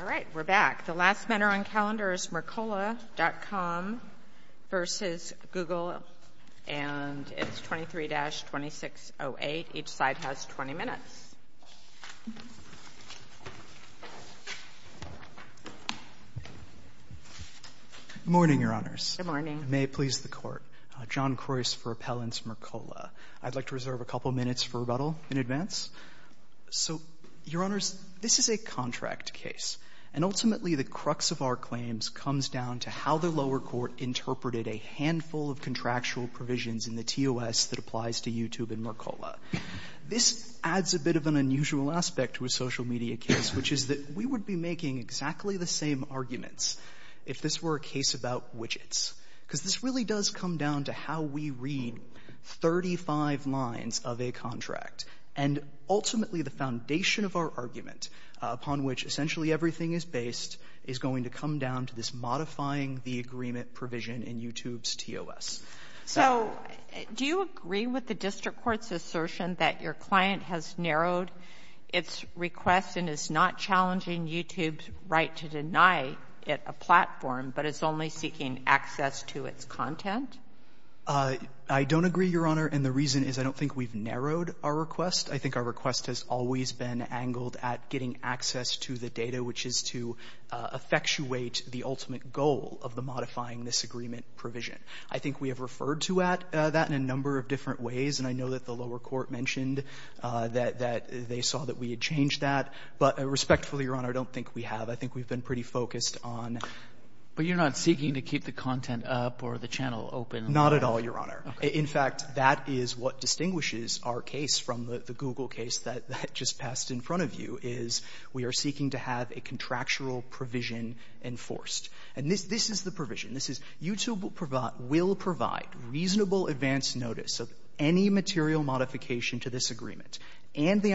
All right, we're back. The last matter on calendar is Mercola.Com v. Google, and it's 23-2608. Each side has 20 minutes. Good morning, Your Honors. Good morning. May it please the Court. John Krois for Appellants Mercola. I'd like to reserve a couple minutes for rebuttal in advance. So, Your Honors, this is a contract case, and ultimately the crux of our claims comes down to how the lower court interpreted a handful of contractual provisions in the TOS that applies to YouTube and Mercola. This adds a bit of an unusual aspect to a social media case, which is that we would be making exactly the same arguments if this were a case about widgets, because this really does come down to how we read 35 lines of a contract. And ultimately, the foundation of our argument, upon which essentially everything is based, is going to come down to this modifying the agreement provision in YouTube's TOS. So, do you agree with the district court's assertion that your client has narrowed its request and is not challenging YouTube's right to deny it a platform, but is only seeking access to its content? I don't agree, Your Honor, and the reason is I don't think we've narrowed our request. I think our request has always been angled at getting access to the data, which is to effectuate the ultimate goal of the modifying this agreement provision. I think we have referred to that in a number of different ways, and I know that the lower court mentioned that they saw that we had changed that. But respectfully, Your Honor, I don't think we have. I think we've been pretty focused on — But you're not seeking to keep the content up or the channel open? Not at all, Your Honor. In fact, that is what distinguishes our case from the Google case that just passed in front of you, is we are seeking to have a contractual provision enforced. And this is the provision. This is YouTube will provide reasonable advance notice of any material modification to this agreement and the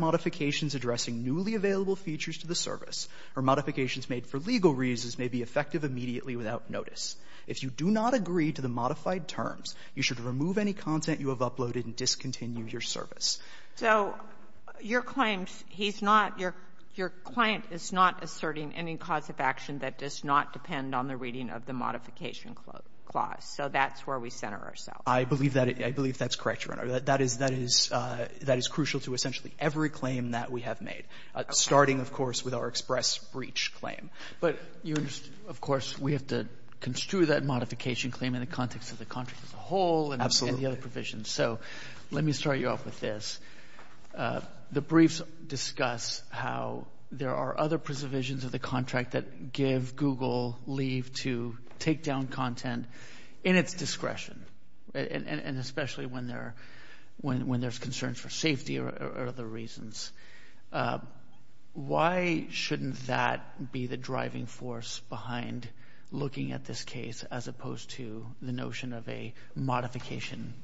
modifications addressing newly available features to the service or modifications made for legal reasons may be effective immediately without notice. If you do not agree to the modified terms, you should remove any content you have uploaded and discontinue your service. So your claim, he's not — your client is not asserting any cause of action that does not depend on the reading of the modification clause. So that's where we center ourselves. I believe that — I believe that's correct, Your Honor. That is — that is crucial to essentially every claim that we have made, starting, of course, with our express breach claim. But you — of course, we have to construe that modification claim in the context of the contract as a whole and the other provisions. Absolutely. So let me start you off with this. The briefs discuss how there are other preservations of the contract that give Google leave to take down content in its version. Why shouldn't that be the driving force behind looking at this case as opposed to the notion of a modification?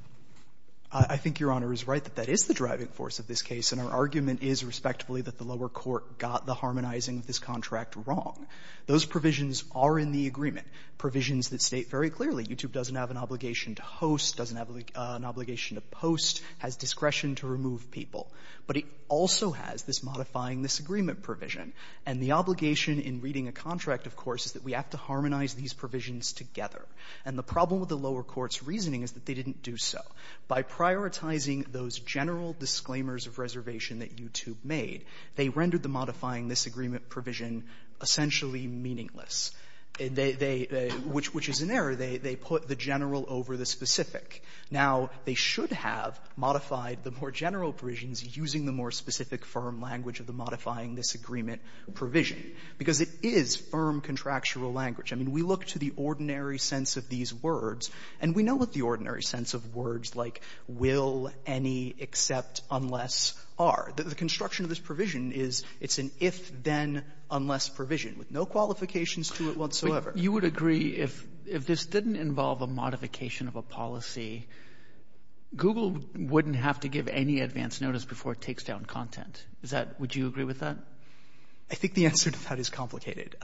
I think Your Honor is right that that is the driving force of this case. And our argument is, respectfully, that the lower court got the harmonizing of this contract wrong. Those provisions are in the agreement, provisions that state very clearly YouTube doesn't have an obligation to host, doesn't have an obligation to post, has discretion to remove people. But it also has this modifying this agreement provision. And the obligation in reading a contract, of course, is that we have to harmonize these provisions together. And the problem with the lower court's reasoning is that they didn't do so. By prioritizing those general disclaimers of reservation that YouTube made, they rendered the modifying this agreement provision essentially meaningless. They — which is an error. They put the general over the specific. Now, they should have modified the more general provisions using the more specific firm language of the modifying this agreement provision, because it is firm contractual language. I mean, we look to the ordinary sense of these words, and we know what the ordinary sense of words like will, any, except, unless are. The construction of this provision is it's an if-then-unless provision with no qualifications to it whatsoever. You would agree, if this didn't involve a modification of a policy, Google wouldn't have to give any advance notice before it takes down content. Is that — would you agree with that? I think the answer to that is complicated.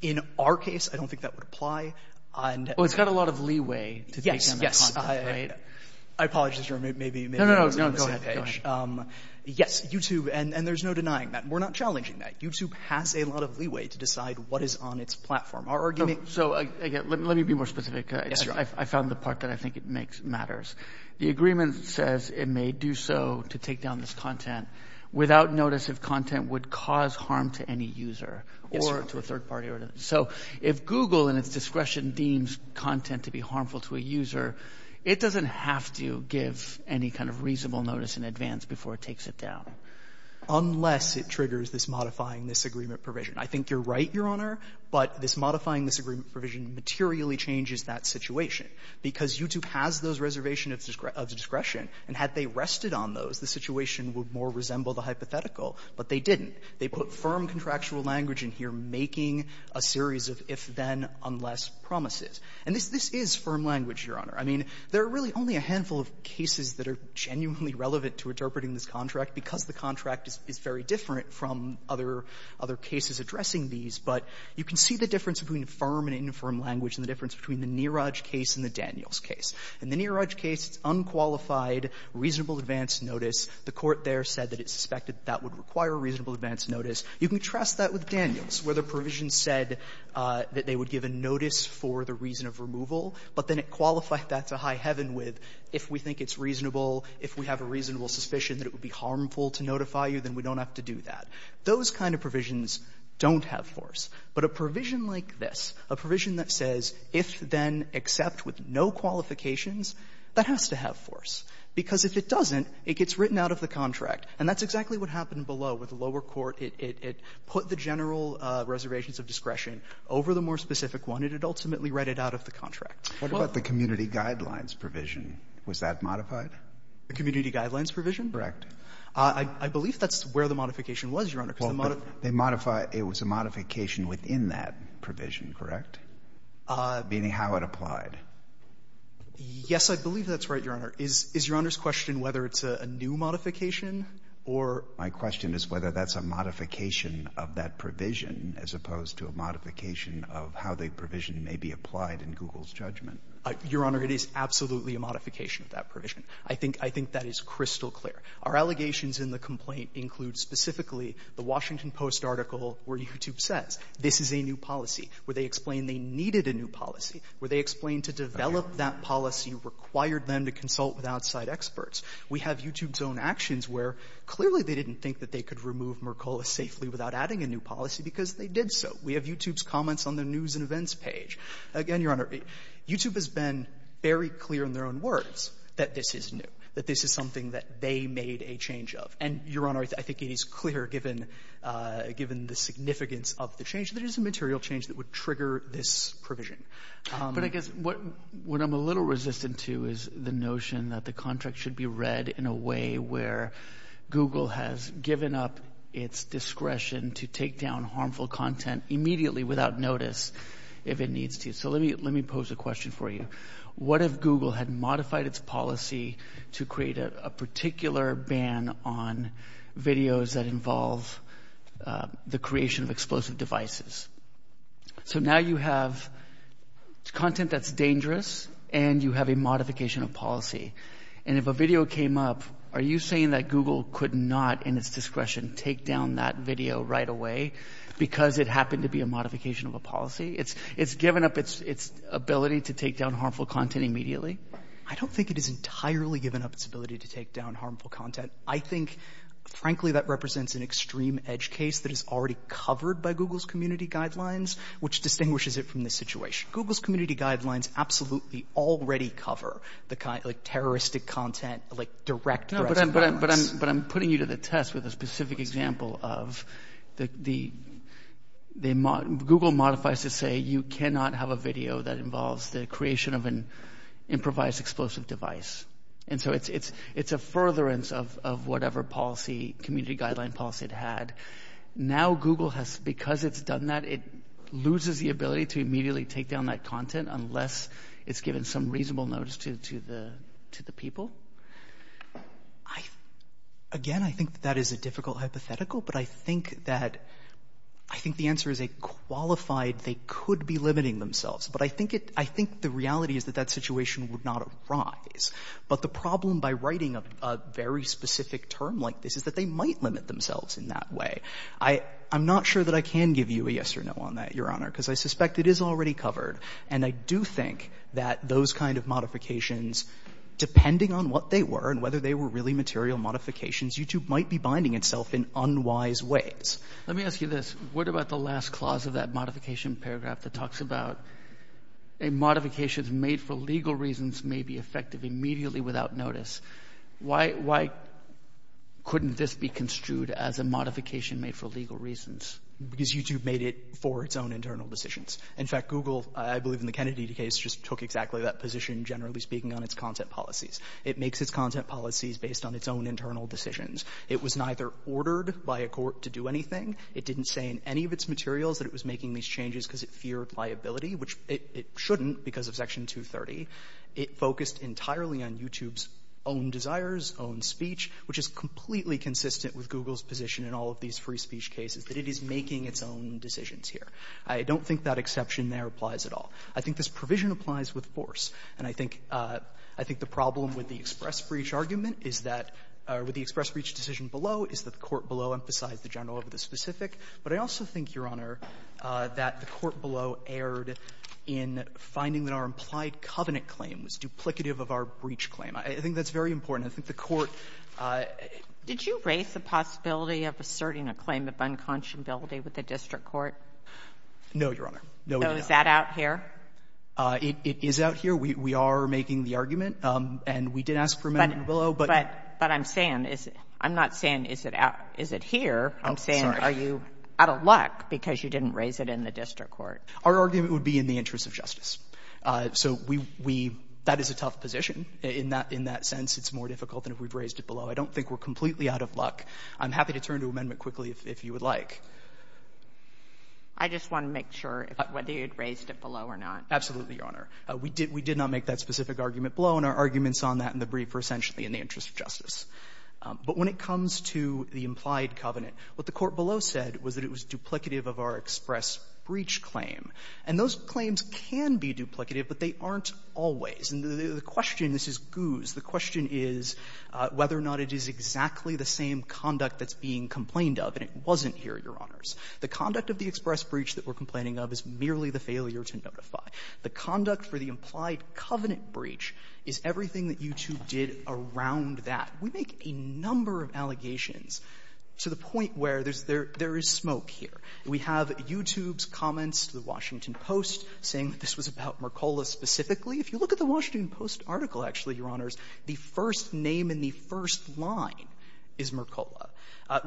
In our case, I don't think that would apply. Well, it's got a lot of leeway to take down that content, right? Yes, yes. I apologize. Or maybe — No, no, no. Go ahead. Yes, YouTube — and there's no denying that. We're not challenging that. YouTube has a lot of leeway to decide what is on its platform. Our argument — So, again, let me be more specific. Yes, sure. I found the part that I think it makes — matters. The agreement says it may do so to take down this content without notice if content would cause harm to any user — Yes, sir. — or to a third party. So, if Google, in its discretion, deems content to be harmful to a user, it doesn't have to give any kind of reasonable notice in advance before it takes it down. Unless it triggers this modifying-disagreement provision. I think you're right, Your Honor, but this modifying-disagreement provision materially changes that situation. Because YouTube has those reservations of discretion, and had they rested on those, the situation would more resemble the hypothetical. But they didn't. They put firm contractual language in here making a series of if-then-unless promises. And this is firm language, Your Honor. I mean, there are really only a different from other cases addressing these. But you can see the difference between firm and infirm language and the difference between the Neeraj case and the Daniels case. In the Neeraj case, it's unqualified, reasonable advance notice. The court there said that it suspected that would require a reasonable advance notice. You can trust that with Daniels, where the provision said that they would give a notice for the reason of removal, but then it qualified that to high heaven with if we think it's reasonable, if we have a reasonable suspicion that it would be harmful to notify you, then we don't have to do that. Those kind of provisions don't have force. But a provision like this, a provision that says if-then-except with no qualifications, that has to have force. Because if it doesn't, it gets written out of the contract. And that's exactly what happened below with the lower court. It put the general reservations of discretion over the more specific one. It ultimately read it out of the contract. What about the community guidelines provision? Was that modified? The community guidelines provision? Correct. I believe that's where the modification was, Your Honor. Well, but they modify — it was a modification within that provision, correct? Meaning how it applied. Yes, I believe that's right, Your Honor. Is Your Honor's question whether it's a new modification or — My question is whether that's a modification of that provision as opposed to a modification of how the provision may be applied in Google's judgment. Your Honor, it is absolutely a modification of that provision. I think — I think that is crystal clear. Our allegations in the complaint include specifically the Washington Post article where YouTube says, this is a new policy, where they explain they needed a new policy, where they explain to develop that policy required them to consult with outside experts. We have YouTube's own actions where, clearly, they didn't think that they could remove Mercola safely without adding a new policy because they did so. We have YouTube's comments on the news and events page. Again, Your Honor, YouTube has been very clear in their own words that this is new, that this is something that they made a change of. And, Your Honor, I think it is clear, given — given the significance of the change, that it is a material change that would trigger this provision. But I guess what — what I'm a little resistant to is the notion that the contract should be read in a way where Google has given up its discretion to take down harmful content immediately without notice if it needs to. So let me — let me pose a question for you. What if Google had modified its policy to create a particular ban on videos that involve the creation of explosive devices? So now you have content that's dangerous and you have a modification of policy. And if a video came up, are you saying that Google could not, in its discretion, take down that video right away because it happened to be a modification of a policy? It's — it's given up its — its ability to take down harmful content immediately? I don't think it has entirely given up its ability to take down harmful content. I think, frankly, that represents an extreme edge case that is already covered by Google's community guidelines, which distinguishes it from this situation. Google's community guidelines absolutely already cover the kind — like, terroristic content, like, direct threats to violence. No, but I'm — but I'm — but I'm putting you to the test with a specific example of the — the — Google modifies to say you cannot have a video that involves the creation of an improvised explosive device. And so it's — it's — it's a furtherance of — of whatever policy, community guideline policy it had. Now Google has — because it's done that, it loses the ability to immediately take down that content unless it's given some reasonable notice to — to the — to the people? I — again, I think that that is a difficult hypothetical, but I think that — I think the answer is a qualified, they could be limiting themselves. But I think it — I think the reality is that that situation would not arise. But the problem by writing a — a very specific term like this is that they might limit themselves in that way. I — I'm not sure that I can give you a yes or no on that, Your Honor, because I suspect it is already covered. And I do think that those kind of modifications, depending on what they were and whether they were really material modifications, YouTube might be binding itself in unwise ways. Let me ask you this. What about the last clause of that modification paragraph that talks about a modification made for legal reasons may be effective immediately without notice? Why — why couldn't this be construed as a modification made for legal reasons? Because YouTube made it for its own internal decisions. In fact, Google, I believe in the Kennedy case, just took exactly that position, generally speaking, on its content policies. It makes its content policies based on its own internal decisions. It was neither ordered by a court to do anything. It didn't say in any of its materials that it was making these changes because it feared liability, which it — it shouldn't because of Section 230. It focused entirely on YouTube's own desires, own speech, which is completely consistent with Google's position in all of these free speech cases, that it is making its own decisions here. I don't think that exception there applies at all. I think this provision applies with force. And I think — I think the problem with the express breach argument is that — or with the express breach decision below is that the court below emphasized the general over the specific. But I also think, Your Honor, that the court below erred in finding that our implied covenant claim was duplicative of our breach claim. I think that's very important. And I think the court — Sotomayor, did you raise the possibility of asserting a claim of unconscionability with the district court? No, Your Honor. No, you didn't. So is that out here? It is out here. We are making the argument, and we did ask for amendment below, but — But I'm saying is — I'm not saying is it out — is it here. I'm saying are you out of luck because you didn't raise it in the district court? Our argument would be in the interest of justice. So we — we — that is a tough position. In that — in that sense, it's more difficult than if we've raised it below. I don't think we're completely out of luck. I'm happy to turn to amendment quickly if — if you would like. I just want to make sure whether you'd raised it below or not. Absolutely, Your Honor. We did — we did not make that specific argument below, and our arguments on that in the brief were essentially in the interest of justice. But when it comes to the implied covenant, what the court below said was that it was duplicative of our express breach claim. And those claims can be duplicative, but they aren't always. And the question — this is goose. The question is whether or not it is exactly the same conduct that's being complained of, and it wasn't here, Your Honors. The conduct of the express breach that we're complaining of is merely the failure to notify. The conduct for the implied covenant breach is everything that YouTube did around that. We make a number of allegations to the point where there's — there is smoke here. We have YouTube's comments to The Washington Post saying that this was about Mercola specifically. If you look at The Washington Post article, actually, Your Honors, the first name in the first line is Mercola.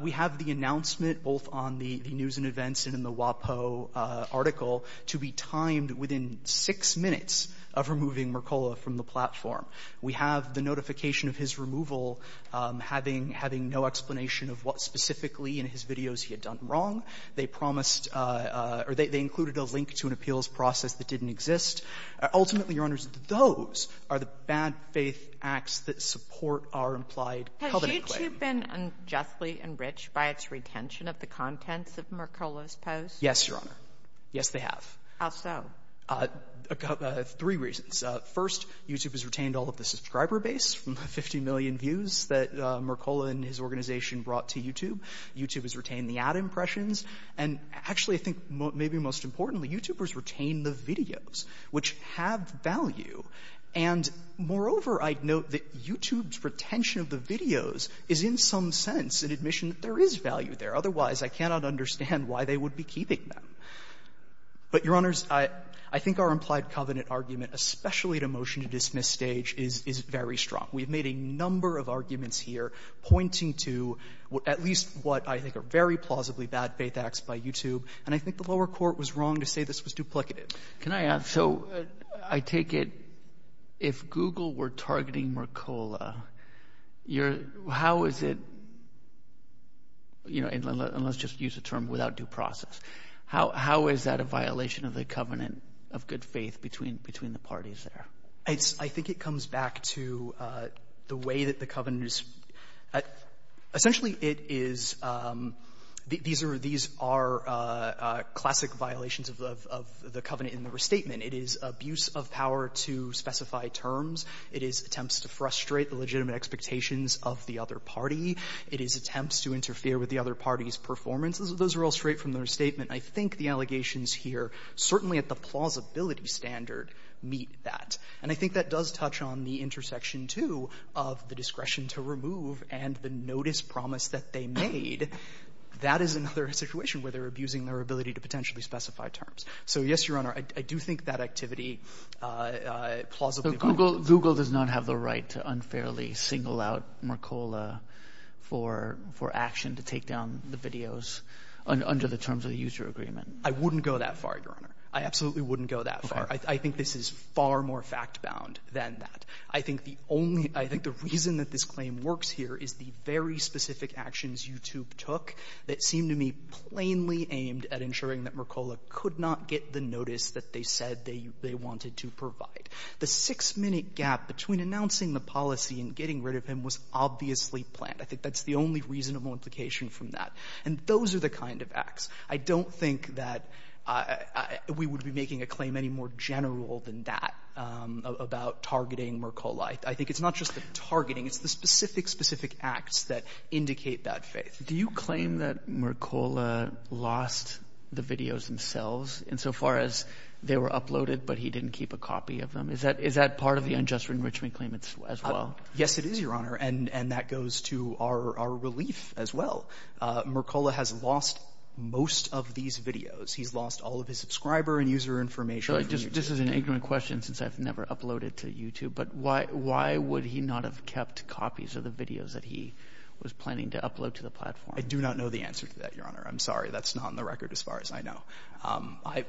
We have the announcement both on the news and events and in the WAPO article to be timed within six minutes of removing Mercola from the platform. We have the notification of his removal having — having no explanation of what specifically in his videos he had done wrong. They promised — or they included a link to an appeals process that didn't exist. Ultimately, Your Honors, those are the bad-faith acts that support our implied covenant claim. Has YouTube been unjustly enriched by its retention of the contents of Mercola's posts? Yes, Your Honor. Yes, they have. How so? Three reasons. First, YouTube has retained all of the subscriber base from the 50 million views that Mercola and his organization brought to YouTube. YouTube has retained the ad impressions. And actually, I think maybe most importantly, YouTubers retain the videos, which have value. And moreover, I note that YouTube's retention of the videos is in some sense an admission that there is value there. Otherwise, I cannot understand why they would be keeping them. But, Your Honors, I think our implied covenant argument, especially at a motion-to-dismiss stage, is — is very strong. We've made a number of arguments here pointing to at least what I think are very plausibly bad-faith acts by YouTube. And I think the lower court was wrong to say this was duplicative. Can I add? So, I take it if Google were targeting Mercola, you're — how is it — you know, and let's just use the term without due process. How is that a violation of the covenant of good faith between the parties there? I think it comes back to the way that the covenant is — essentially, it is — these are — these are classic violations of the covenant in the restatement. It is abuse of power to specify terms. It is attempts to frustrate the legitimate expectations of the other party. It is attempts to interfere with the other party's performance. Those are all straight from the restatement. I think the allegations here, certainly at the plausibility standard, meet that. And I think that does touch on the intersection, too, of the discretion to remove and the notice promise that they made. That is another situation where they're abusing their ability to potentially specify terms. So, yes, Your Honor, I do think that activity plausibly violated. So, Google — Google does not have the right to unfairly single out Mercola for — for terms of the user agreement. I wouldn't go that far, Your Honor. I absolutely wouldn't go that far. I think this is far more fact-bound than that. I think the only — I think the reason that this claim works here is the very specific actions YouTube took that seemed to me plainly aimed at ensuring that Mercola could not get the notice that they said they wanted to provide. The 6-minute gap between announcing the policy and getting rid of him was obviously planned. I think that's the only reasonable implication from that. And those are the kind of acts. I don't think that we would be making a claim any more general than that about targeting Mercola. I think it's not just the targeting. It's the specific, specific acts that indicate that faith. Do you claim that Mercola lost the videos themselves insofar as they were uploaded, but he didn't keep a copy of them? Is that — is that part of the unjust enrichment claim as well? Yes, it is, Your Honor. And that goes to our relief as well. Mercola has lost most of these videos. He's lost all of his subscriber and user information. So I just — this is an ignorant question since I've never uploaded to YouTube, but why would he not have kept copies of the videos that he was planning to upload to the platform? I do not know the answer to that, Your Honor. I'm sorry. That's not on the record as far as I know.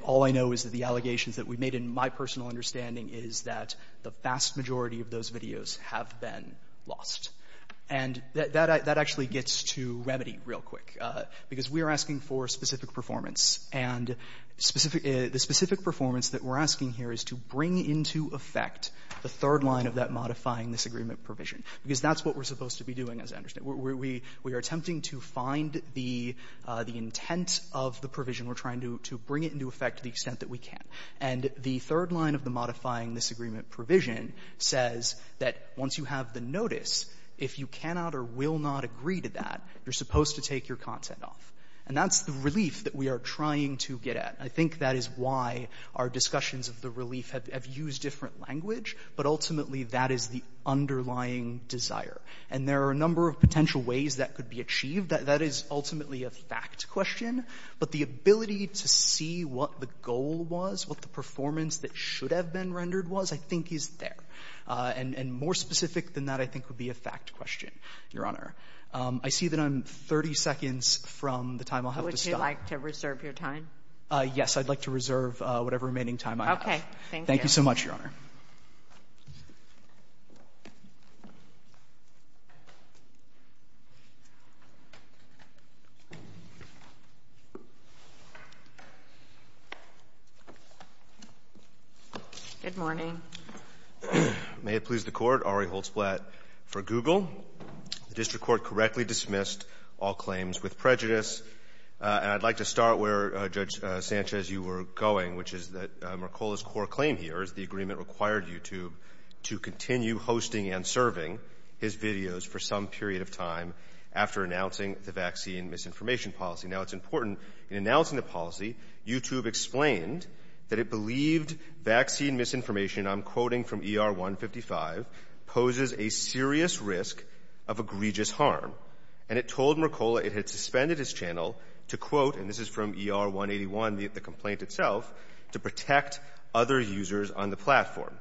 All I know is that the allegations that we made, in my personal understanding, is that the vast majority of those videos have been lost. And that — that actually gets to remedy real quick, because we are asking for specific performance. And specific — the specific performance that we're asking here is to bring into effect the third line of that modifying-disagreement provision, because that's what we're supposed to be doing, as I understand. We — we are attempting to find the — the intent of the provision. We're trying to bring it into effect to the extent that we can. And the third line of the modifying-disagreement provision says that once you have the notice, if you cannot or will not agree to that, you're supposed to take your content off. And that's the relief that we are trying to get at. I think that is why our discussions of the relief have — have used different language. But ultimately, that is the underlying desire. And there are a number of potential ways that could be achieved. That is ultimately a fact question. But the ability to see what the goal was, what the performance that should have been rendered was, I think is there. And more specific than that, I think, would be a fact question, Your Honor. I see that I'm 30 seconds from the time I'll have to stop. Would you like to reserve your time? Yes. I'd like to reserve whatever remaining time I have. Okay. Thank you. Thank you so much, Your Honor. Good morning. May it please the Court. Ari Holzblatt for Google. The District Court correctly dismissed all claims with prejudice. And I'd like to start where, Judge Sanchez, you were going, which is that Mercola's core claim here is the agreement required YouTube to continue hosting and serving his videos for some period of time after announcing the vaccine misinformation policy. Now, it's important. In announcing the policy, YouTube explained that it believed vaccine misinformation — I'm sorry, AR-155 — poses a serious risk of egregious harm. And it told Mercola it had suspended his channel to, quote — and this is from ER-181, the complaint itself — to protect other users on the platform.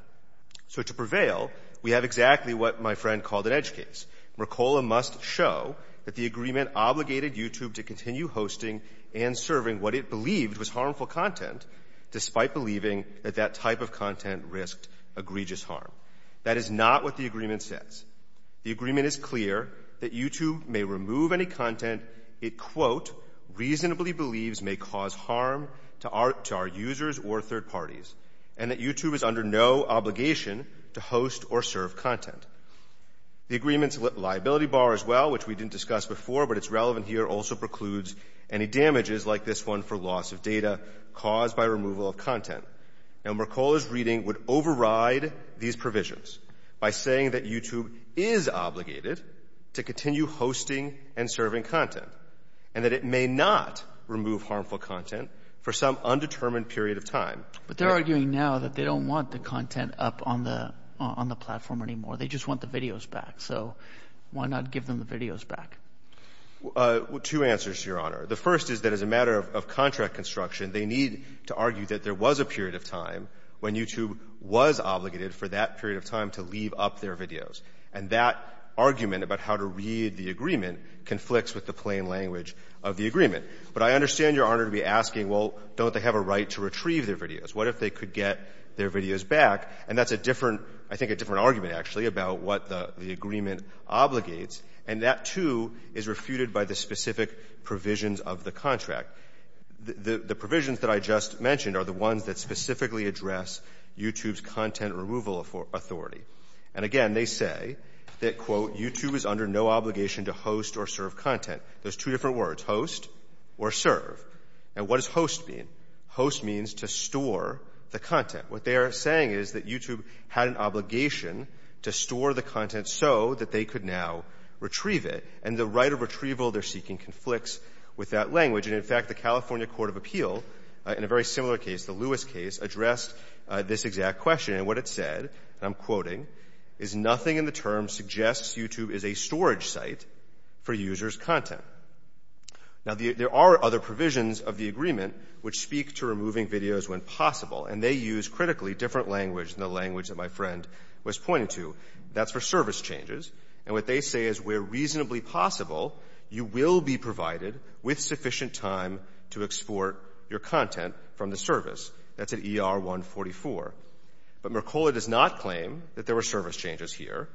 So to prevail, we have exactly what my friend called an edge case. Mercola must show that the agreement obligated YouTube to continue hosting and serving what it believed was harmful content, despite believing that that type of content risked egregious harm. That is not what the agreement says. The agreement is clear that YouTube may remove any content it, quote, reasonably believes may cause harm to our users or third parties, and that YouTube is under no obligation to host or serve content. The agreement's liability bar as well, which we didn't discuss before, but it's relevant here, also precludes any damages like this one for loss of data caused by removal of content. Now, Mercola's reading would override these provisions by saying that YouTube is obligated to continue hosting and serving content and that it may not remove harmful content for some undetermined period of time. But they're arguing now that they don't want the content up on the platform anymore. They just want the videos back. So why not give them the videos back? Two answers, Your Honor. The first is that as a matter of contract construction, they need to argue that there was a period of time when YouTube was obligated for that period of time to leave up their videos. And that argument about how to read the agreement conflicts with the plain language of the agreement. But I understand, Your Honor, to be asking, well, don't they have a right to retrieve their videos? What if they could get their videos back? And that's a different, I think, a different argument, actually, about what the agreement obligates. And that, too, is refuted by the specific provisions of the contract. The provisions that I just mentioned are the ones that specifically address YouTube's content removal authority. And again, they say that, quote, YouTube is under no obligation to host or serve content. There's two different words, host or serve. And what does host mean? Host means to store the content. What they are saying is that YouTube had an obligation to store the content so that they could now retrieve it. And the right of retrieval they're seeking conflicts with that language. And, in fact, the California Court of Appeal, in a very similar case, the Lewis case, addressed this exact question. And what it said, and I'm quoting, is nothing in the term suggests YouTube is a storage site for users' content. Now, there are other provisions of the agreement which speak to removing videos when possible. And they use, critically, different language than the language that my friend was pointing to. That's for service changes. And what they say is where reasonably possible, you will be provided with sufficient time to export your content from the service. That's at ER 144. But Mercola does not claim that there were service changes here.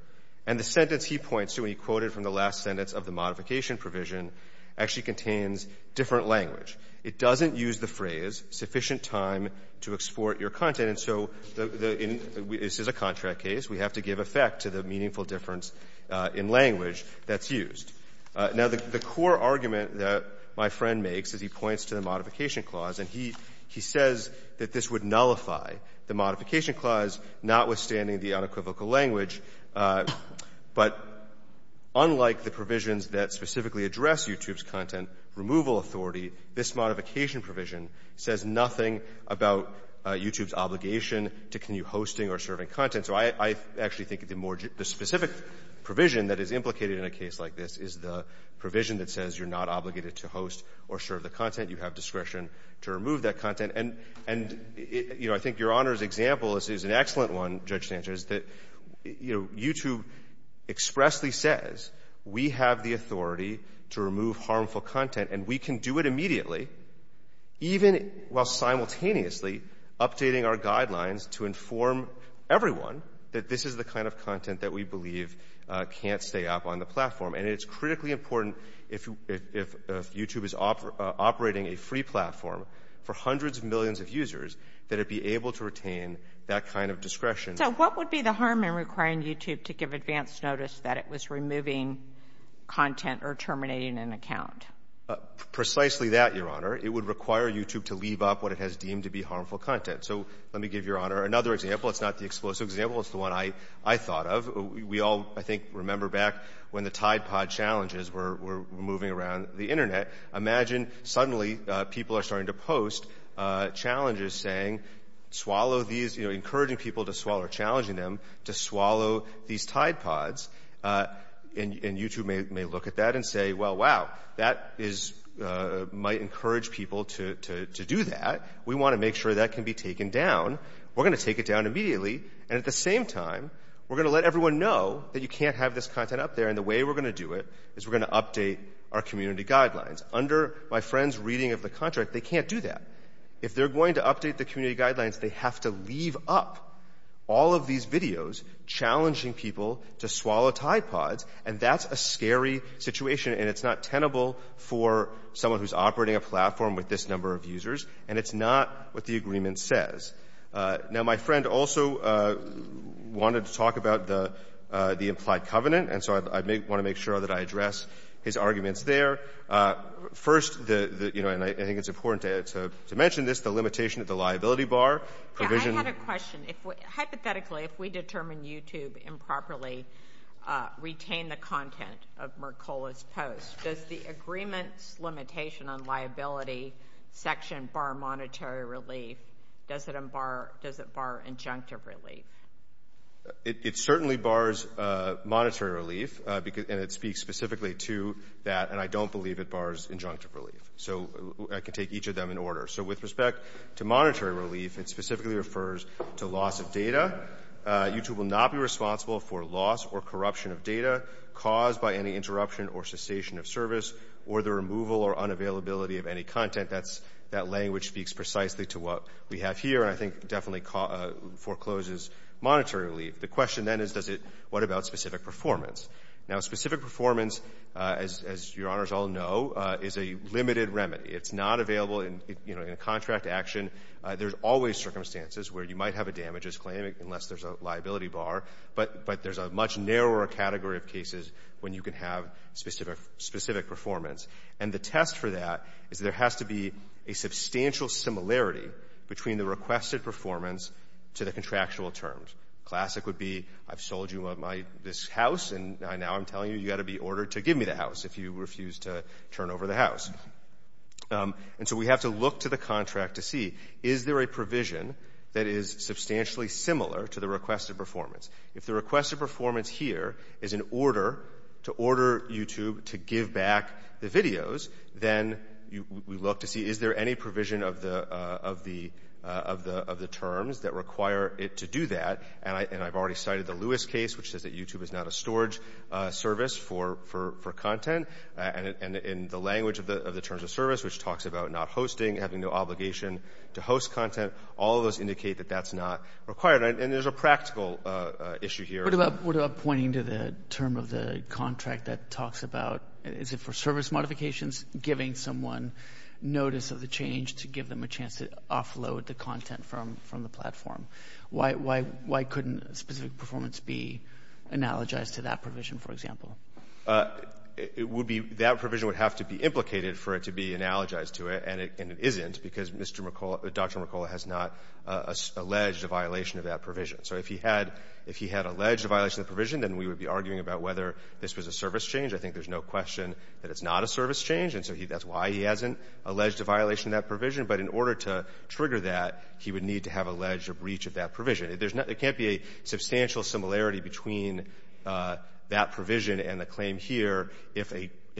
And the sentence he points to, and he quoted from the last sentence of the modification provision, actually contains different language. It doesn't use the phrase sufficient time to export your content. And so the — this is a contract case. We have to give effect to the meaningful difference in language that's used. Now, the core argument that my friend makes is he points to the modification clause. And he says that this would nullify the modification clause, notwithstanding the unequivocal language. But unlike the provisions that specifically address YouTube's content removal authority, this modification provision says nothing about YouTube's obligation to continue hosting or serving content. So I actually think the more — the specific provision that is implicated in a case like this is the provision that says you're not obligated to host or serve the content. You have discretion to remove that content. And, you know, I think Your Honor's example is an excellent one, Judge Sanchez, that, you know, YouTube expressly says we have the authority to remove harmful content, and we can do it immediately, even while simultaneously updating our guidelines to inform everyone that this is the kind of content that we believe can't stay up on the platform. And it's critically important if YouTube is operating a free platform for hundreds of millions of users that it be able to retain that kind of discretion. So what would be the harm in requiring YouTube to give advance notice that it was removing content or terminating an account? Precisely that, Your Honor. It would require YouTube to leave up what it has deemed to be harmful content. So let me give Your Honor another example. It's not the explosive example. It's the one I thought of. We all, I think, remember back when the Tide Pod challenges were moving around the Internet. Imagine suddenly people are starting to post challenges saying swallow these — you know, encouraging people to swallow or challenging them to swallow these Tide Pods. And YouTube may look at that and say, well, wow, that might encourage people to do that. We want to make sure that can be taken down. We're going to take it down immediately. And at the same time, we're going to let everyone know that you can't have this content up there. And the way we're going to do it is we're going to update our community guidelines. Under my friend's reading of the contract, they can't do that. If they're going to update the community guidelines, they have to leave up all of these videos challenging people to swallow Tide Pods. And that's a scary situation. And it's not tenable for someone who's operating a platform with this number of users. And it's not what the agreement says. Now, my friend also wanted to talk about the implied covenant. And so I want to make sure that I address his arguments there. First, you know, and I think it's important to mention this, the limitation of the liability bar. Yeah, I had a question. Hypothetically, if we determine YouTube improperly retain the content of Mercola's post, does the agreement's limitation on liability section bar monetary relief? Does it bar injunctive relief? It certainly bars monetary relief. And it speaks specifically to that. And I don't believe it bars injunctive relief. So I can take each of them in order. So with respect to monetary relief, it specifically refers to loss of data. YouTube will not be responsible for loss or corruption of data caused by any interruption or cessation of service or the removal or unavailability of any content. That language speaks precisely to what we have here. And I think definitely forecloses monetary relief. The question then is, what about specific performance? Now, specific performance, as your honors all know, is a limited remedy. It's not available in, you know, in a contract action. There's always circumstances where you might have a damages claim unless there's a liability bar. But there's a much narrower category of cases when you can have specific performance. And the test for that is there has to be a substantial similarity between the requested performance to the contractual terms. Classic would be, I've sold you this house, and now I'm telling you, you've got to And so we have to look to the contract to see, is there a provision that is substantially similar to the requested performance? If the requested performance here is in order to order YouTube to give back the videos, then we look to see, is there any provision of the terms that require it to do that? And I've already cited the Lewis case, which says that YouTube is not a storage service for content. And in the language of the terms of service, which talks about not hosting, having no obligation to host content, all of those indicate that that's not required. And there's a practical issue here. But what about pointing to the term of the contract that talks about, is it for service modifications, giving someone notice of the change to give them a chance to offload the content from the platform? Why couldn't a specific performance be analogized to that provision, for example? It would be, that provision would have to be implicated for it to be analogized to it, and it isn't, because Dr. Mercola has not alleged a violation of that provision. So if he had alleged a violation of the provision, then we would be arguing about whether this was a service change. I think there's no question that it's not a service change. And so that's why he hasn't alleged a violation of that provision. But in order to trigger that, he would need to have alleged a breach of that provision. There can't be a substantial similarity between that provision and the claim here, if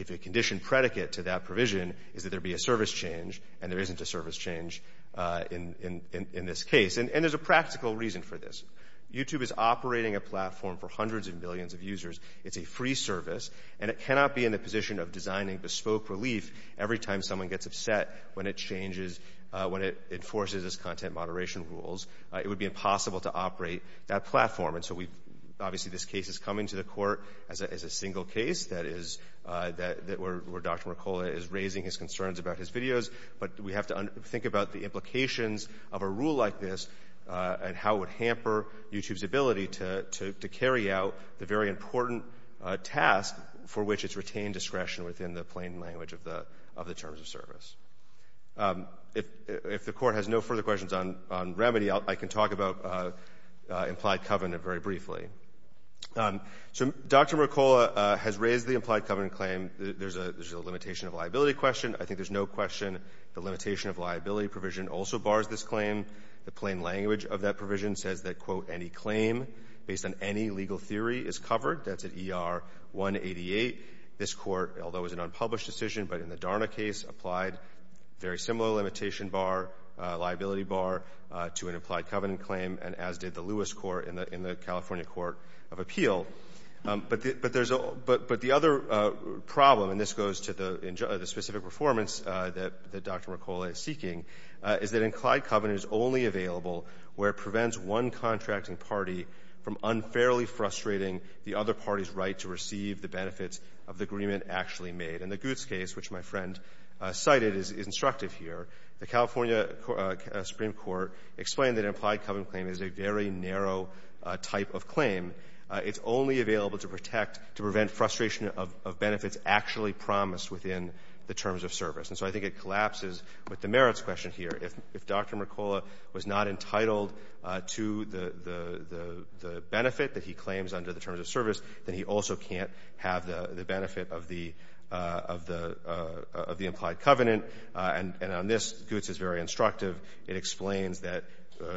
a condition predicate to that provision is that there be a service change, and there isn't a service change in this case. And there's a practical reason for this. YouTube is operating a platform for hundreds of millions of users. It's a free service, and it cannot be in the position of designing bespoke relief every someone gets upset when it changes, when it enforces its content moderation rules. It would be impossible to operate that platform. And so we, obviously, this case is coming to the Court as a single case, that is, where Dr. Mercola is raising his concerns about his videos. But we have to think about the implications of a rule like this and how it would hamper YouTube's ability to carry out the very important task for which it's retained discretion the plain language of the terms of service. If the Court has no further questions on remedy, I can talk about implied covenant very briefly. So Dr. Mercola has raised the implied covenant claim. There's a limitation of liability question. I think there's no question the limitation of liability provision also bars this claim. The plain language of that provision says that, quote, any claim based on any legal theory is covered. That's at ER 188. This Court, although it was an unpublished decision, but in the Darna case, applied very similar limitation bar, liability bar, to an implied covenant claim, and as did the Lewis Court in the California Court of Appeal. But the other problem, and this goes to the specific performance that Dr. Mercola is seeking, is that implied covenant is only available where it prevents one contracting party from of the agreement actually made. In the Gutes case, which my friend cited, is instructive here. The California Supreme Court explained that an implied covenant claim is a very narrow type of claim. It's only available to protect, to prevent frustration of benefits actually promised within the terms of service. And so I think it collapses with the merits question here. If Dr. Mercola was not entitled to the benefit that he claims under the terms of service, then he also can't have the benefit of the implied covenant. And on this, Gutes is very instructive. It explains that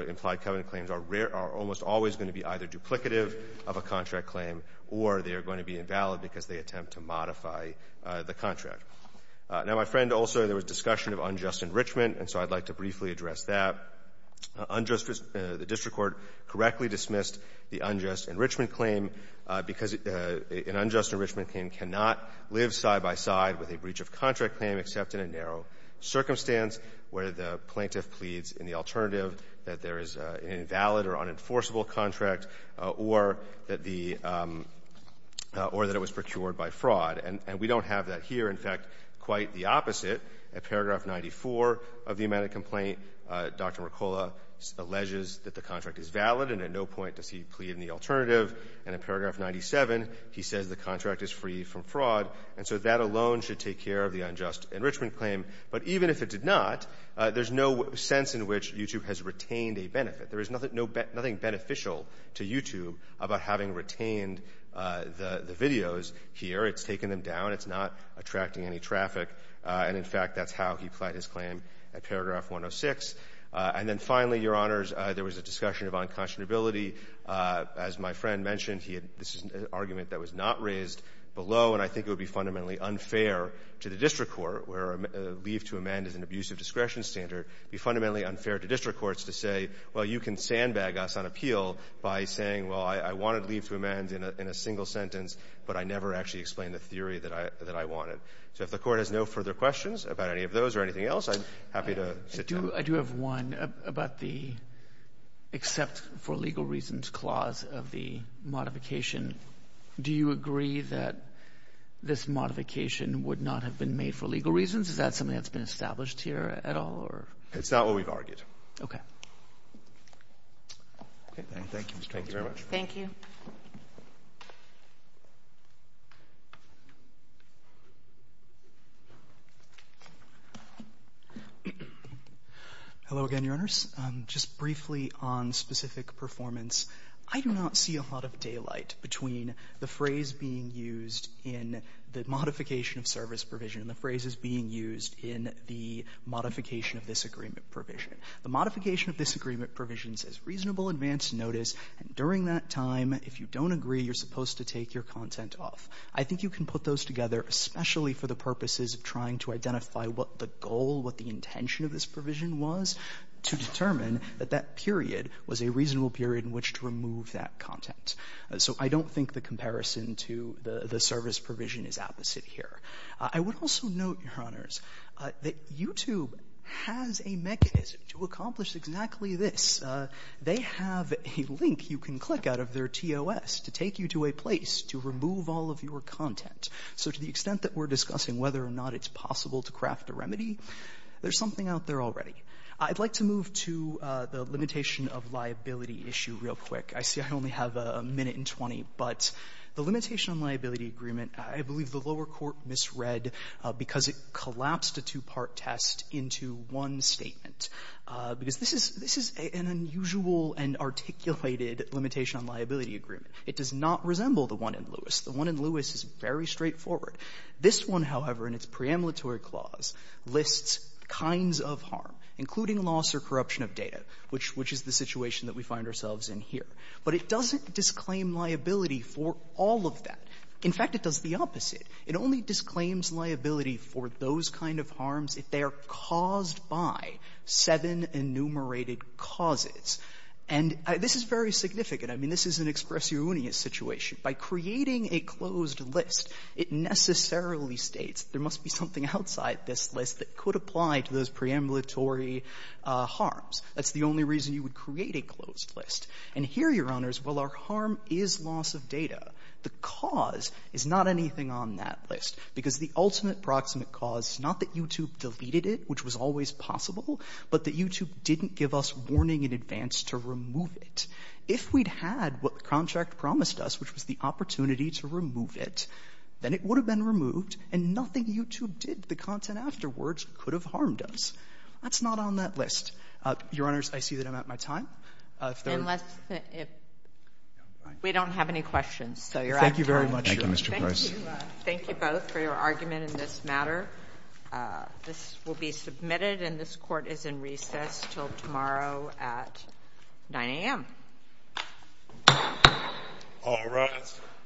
implied covenant claims are almost always going to be either duplicative of a contract claim or they are going to be invalid because they attempt to modify the contract. Now, my friend, also, there was discussion of unjust enrichment, and so I'd like to briefly address that. Unjust enrichment, the district court correctly dismissed the unjust enrichment claim because an unjust enrichment claim cannot live side by side with a breach of contract claim except in a narrow circumstance where the plaintiff pleads in the alternative that there is an invalid or unenforceable contract or that the or that it was procured by fraud. And we don't have that here. In fact, quite the opposite. At paragraph 94 of the amended complaint, Dr. Mercola alleges that the contract is valid and at no point does he plead in the alternative. And in paragraph 97, he says the contract is free from fraud. And so that alone should take care of the unjust enrichment claim. But even if it did not, there's no sense in which YouTube has retained a benefit. There is nothing beneficial to YouTube about having retained the videos here. It's taken them down. It's not attracting any traffic. And, in fact, that's how he pled his claim at paragraph 106. And then finally, Your Honors, there was a discussion of unconscionability. As my friend mentioned, he had this argument that was not raised below, and I think it would be fundamentally unfair to the district court where leave to amend is an abusive discretion standard, be fundamentally unfair to district courts to say, well, you can sandbag us on appeal by saying, well, I wanted leave to amend in a single sentence, but I never actually explained the theory that I wanted. So if the Court has no further questions about any of those or anything else, I'm happy to sit down. I do have one about the except for legal reasons clause of the modification. Do you agree that this modification would not have been made for legal reasons? Is that something that's been established here at all, or? It's not what we've argued. Okay. Okay. Thank you. Thank you very much. Thank you. Hello again, Your Honors. Just briefly on specific performance, I do not see a lot of daylight between the phrase being used in the modification of service provision and the phrases being used in the modification of this agreement provision. The modification of this agreement provision says reasonable advance notice, and during that time, if you don't agree, you're supposed to take your content off. I think you can put those together, especially for the purposes of trying to identify what the goal, what the intention of this provision was, to determine that that period was a reasonable period in which to remove that content. So I don't think the comparison to the service provision is opposite here. I would also note, Your Honors, that YouTube has a mechanism to accomplish exactly this. They have a link you can click out of their TOS to take you to a place to remove all of your content. So to the extent that we're discussing whether or not it's possible to craft a remedy, there's something out there already. I'd like to move to the limitation of liability issue real quick. I see I only have a minute and 20, but the limitation on liability agreement, I believe the lower court misread because it collapsed a two-part test into one statement. Because this is an unusual and articulated limitation on liability agreement. It does not resemble the one in Lewis. The one in Lewis is very straightforward. This one, however, in its pre-emulatory clause lists kinds of harm, including loss or corruption of data, which is the situation that we find ourselves in here. But it doesn't disclaim liability for all of that. In fact, it does the opposite. It only disclaims liability for those kind of harms if they are caused by seven enumerated causes. And this is very significant. I mean, this is an expressionist situation. By creating a closed list, it necessarily states there must be something outside this list that could apply to those pre-emulatory harms. That's the only reason you would create a closed list. And here, Your Honors, while our harm is loss of data, the cause is not anything on that list. Because the ultimate proximate cause is not that YouTube deleted it, which was always possible, but that YouTube didn't give us warning in advance to remove it. If we'd had what the contract promised us, which was the opportunity to remove it, then it would have been removed, and nothing YouTube did to the content afterwards could have harmed us. That's not on that list. Your Honors, I see that I'm out of my time. If there are other questions, I'm happy to take questions. Thank you very much, Mr. Price. Thank you both for your argument in this matter. This will be submitted, and this Court is in recess until tomorrow at 9 a.m. All rise.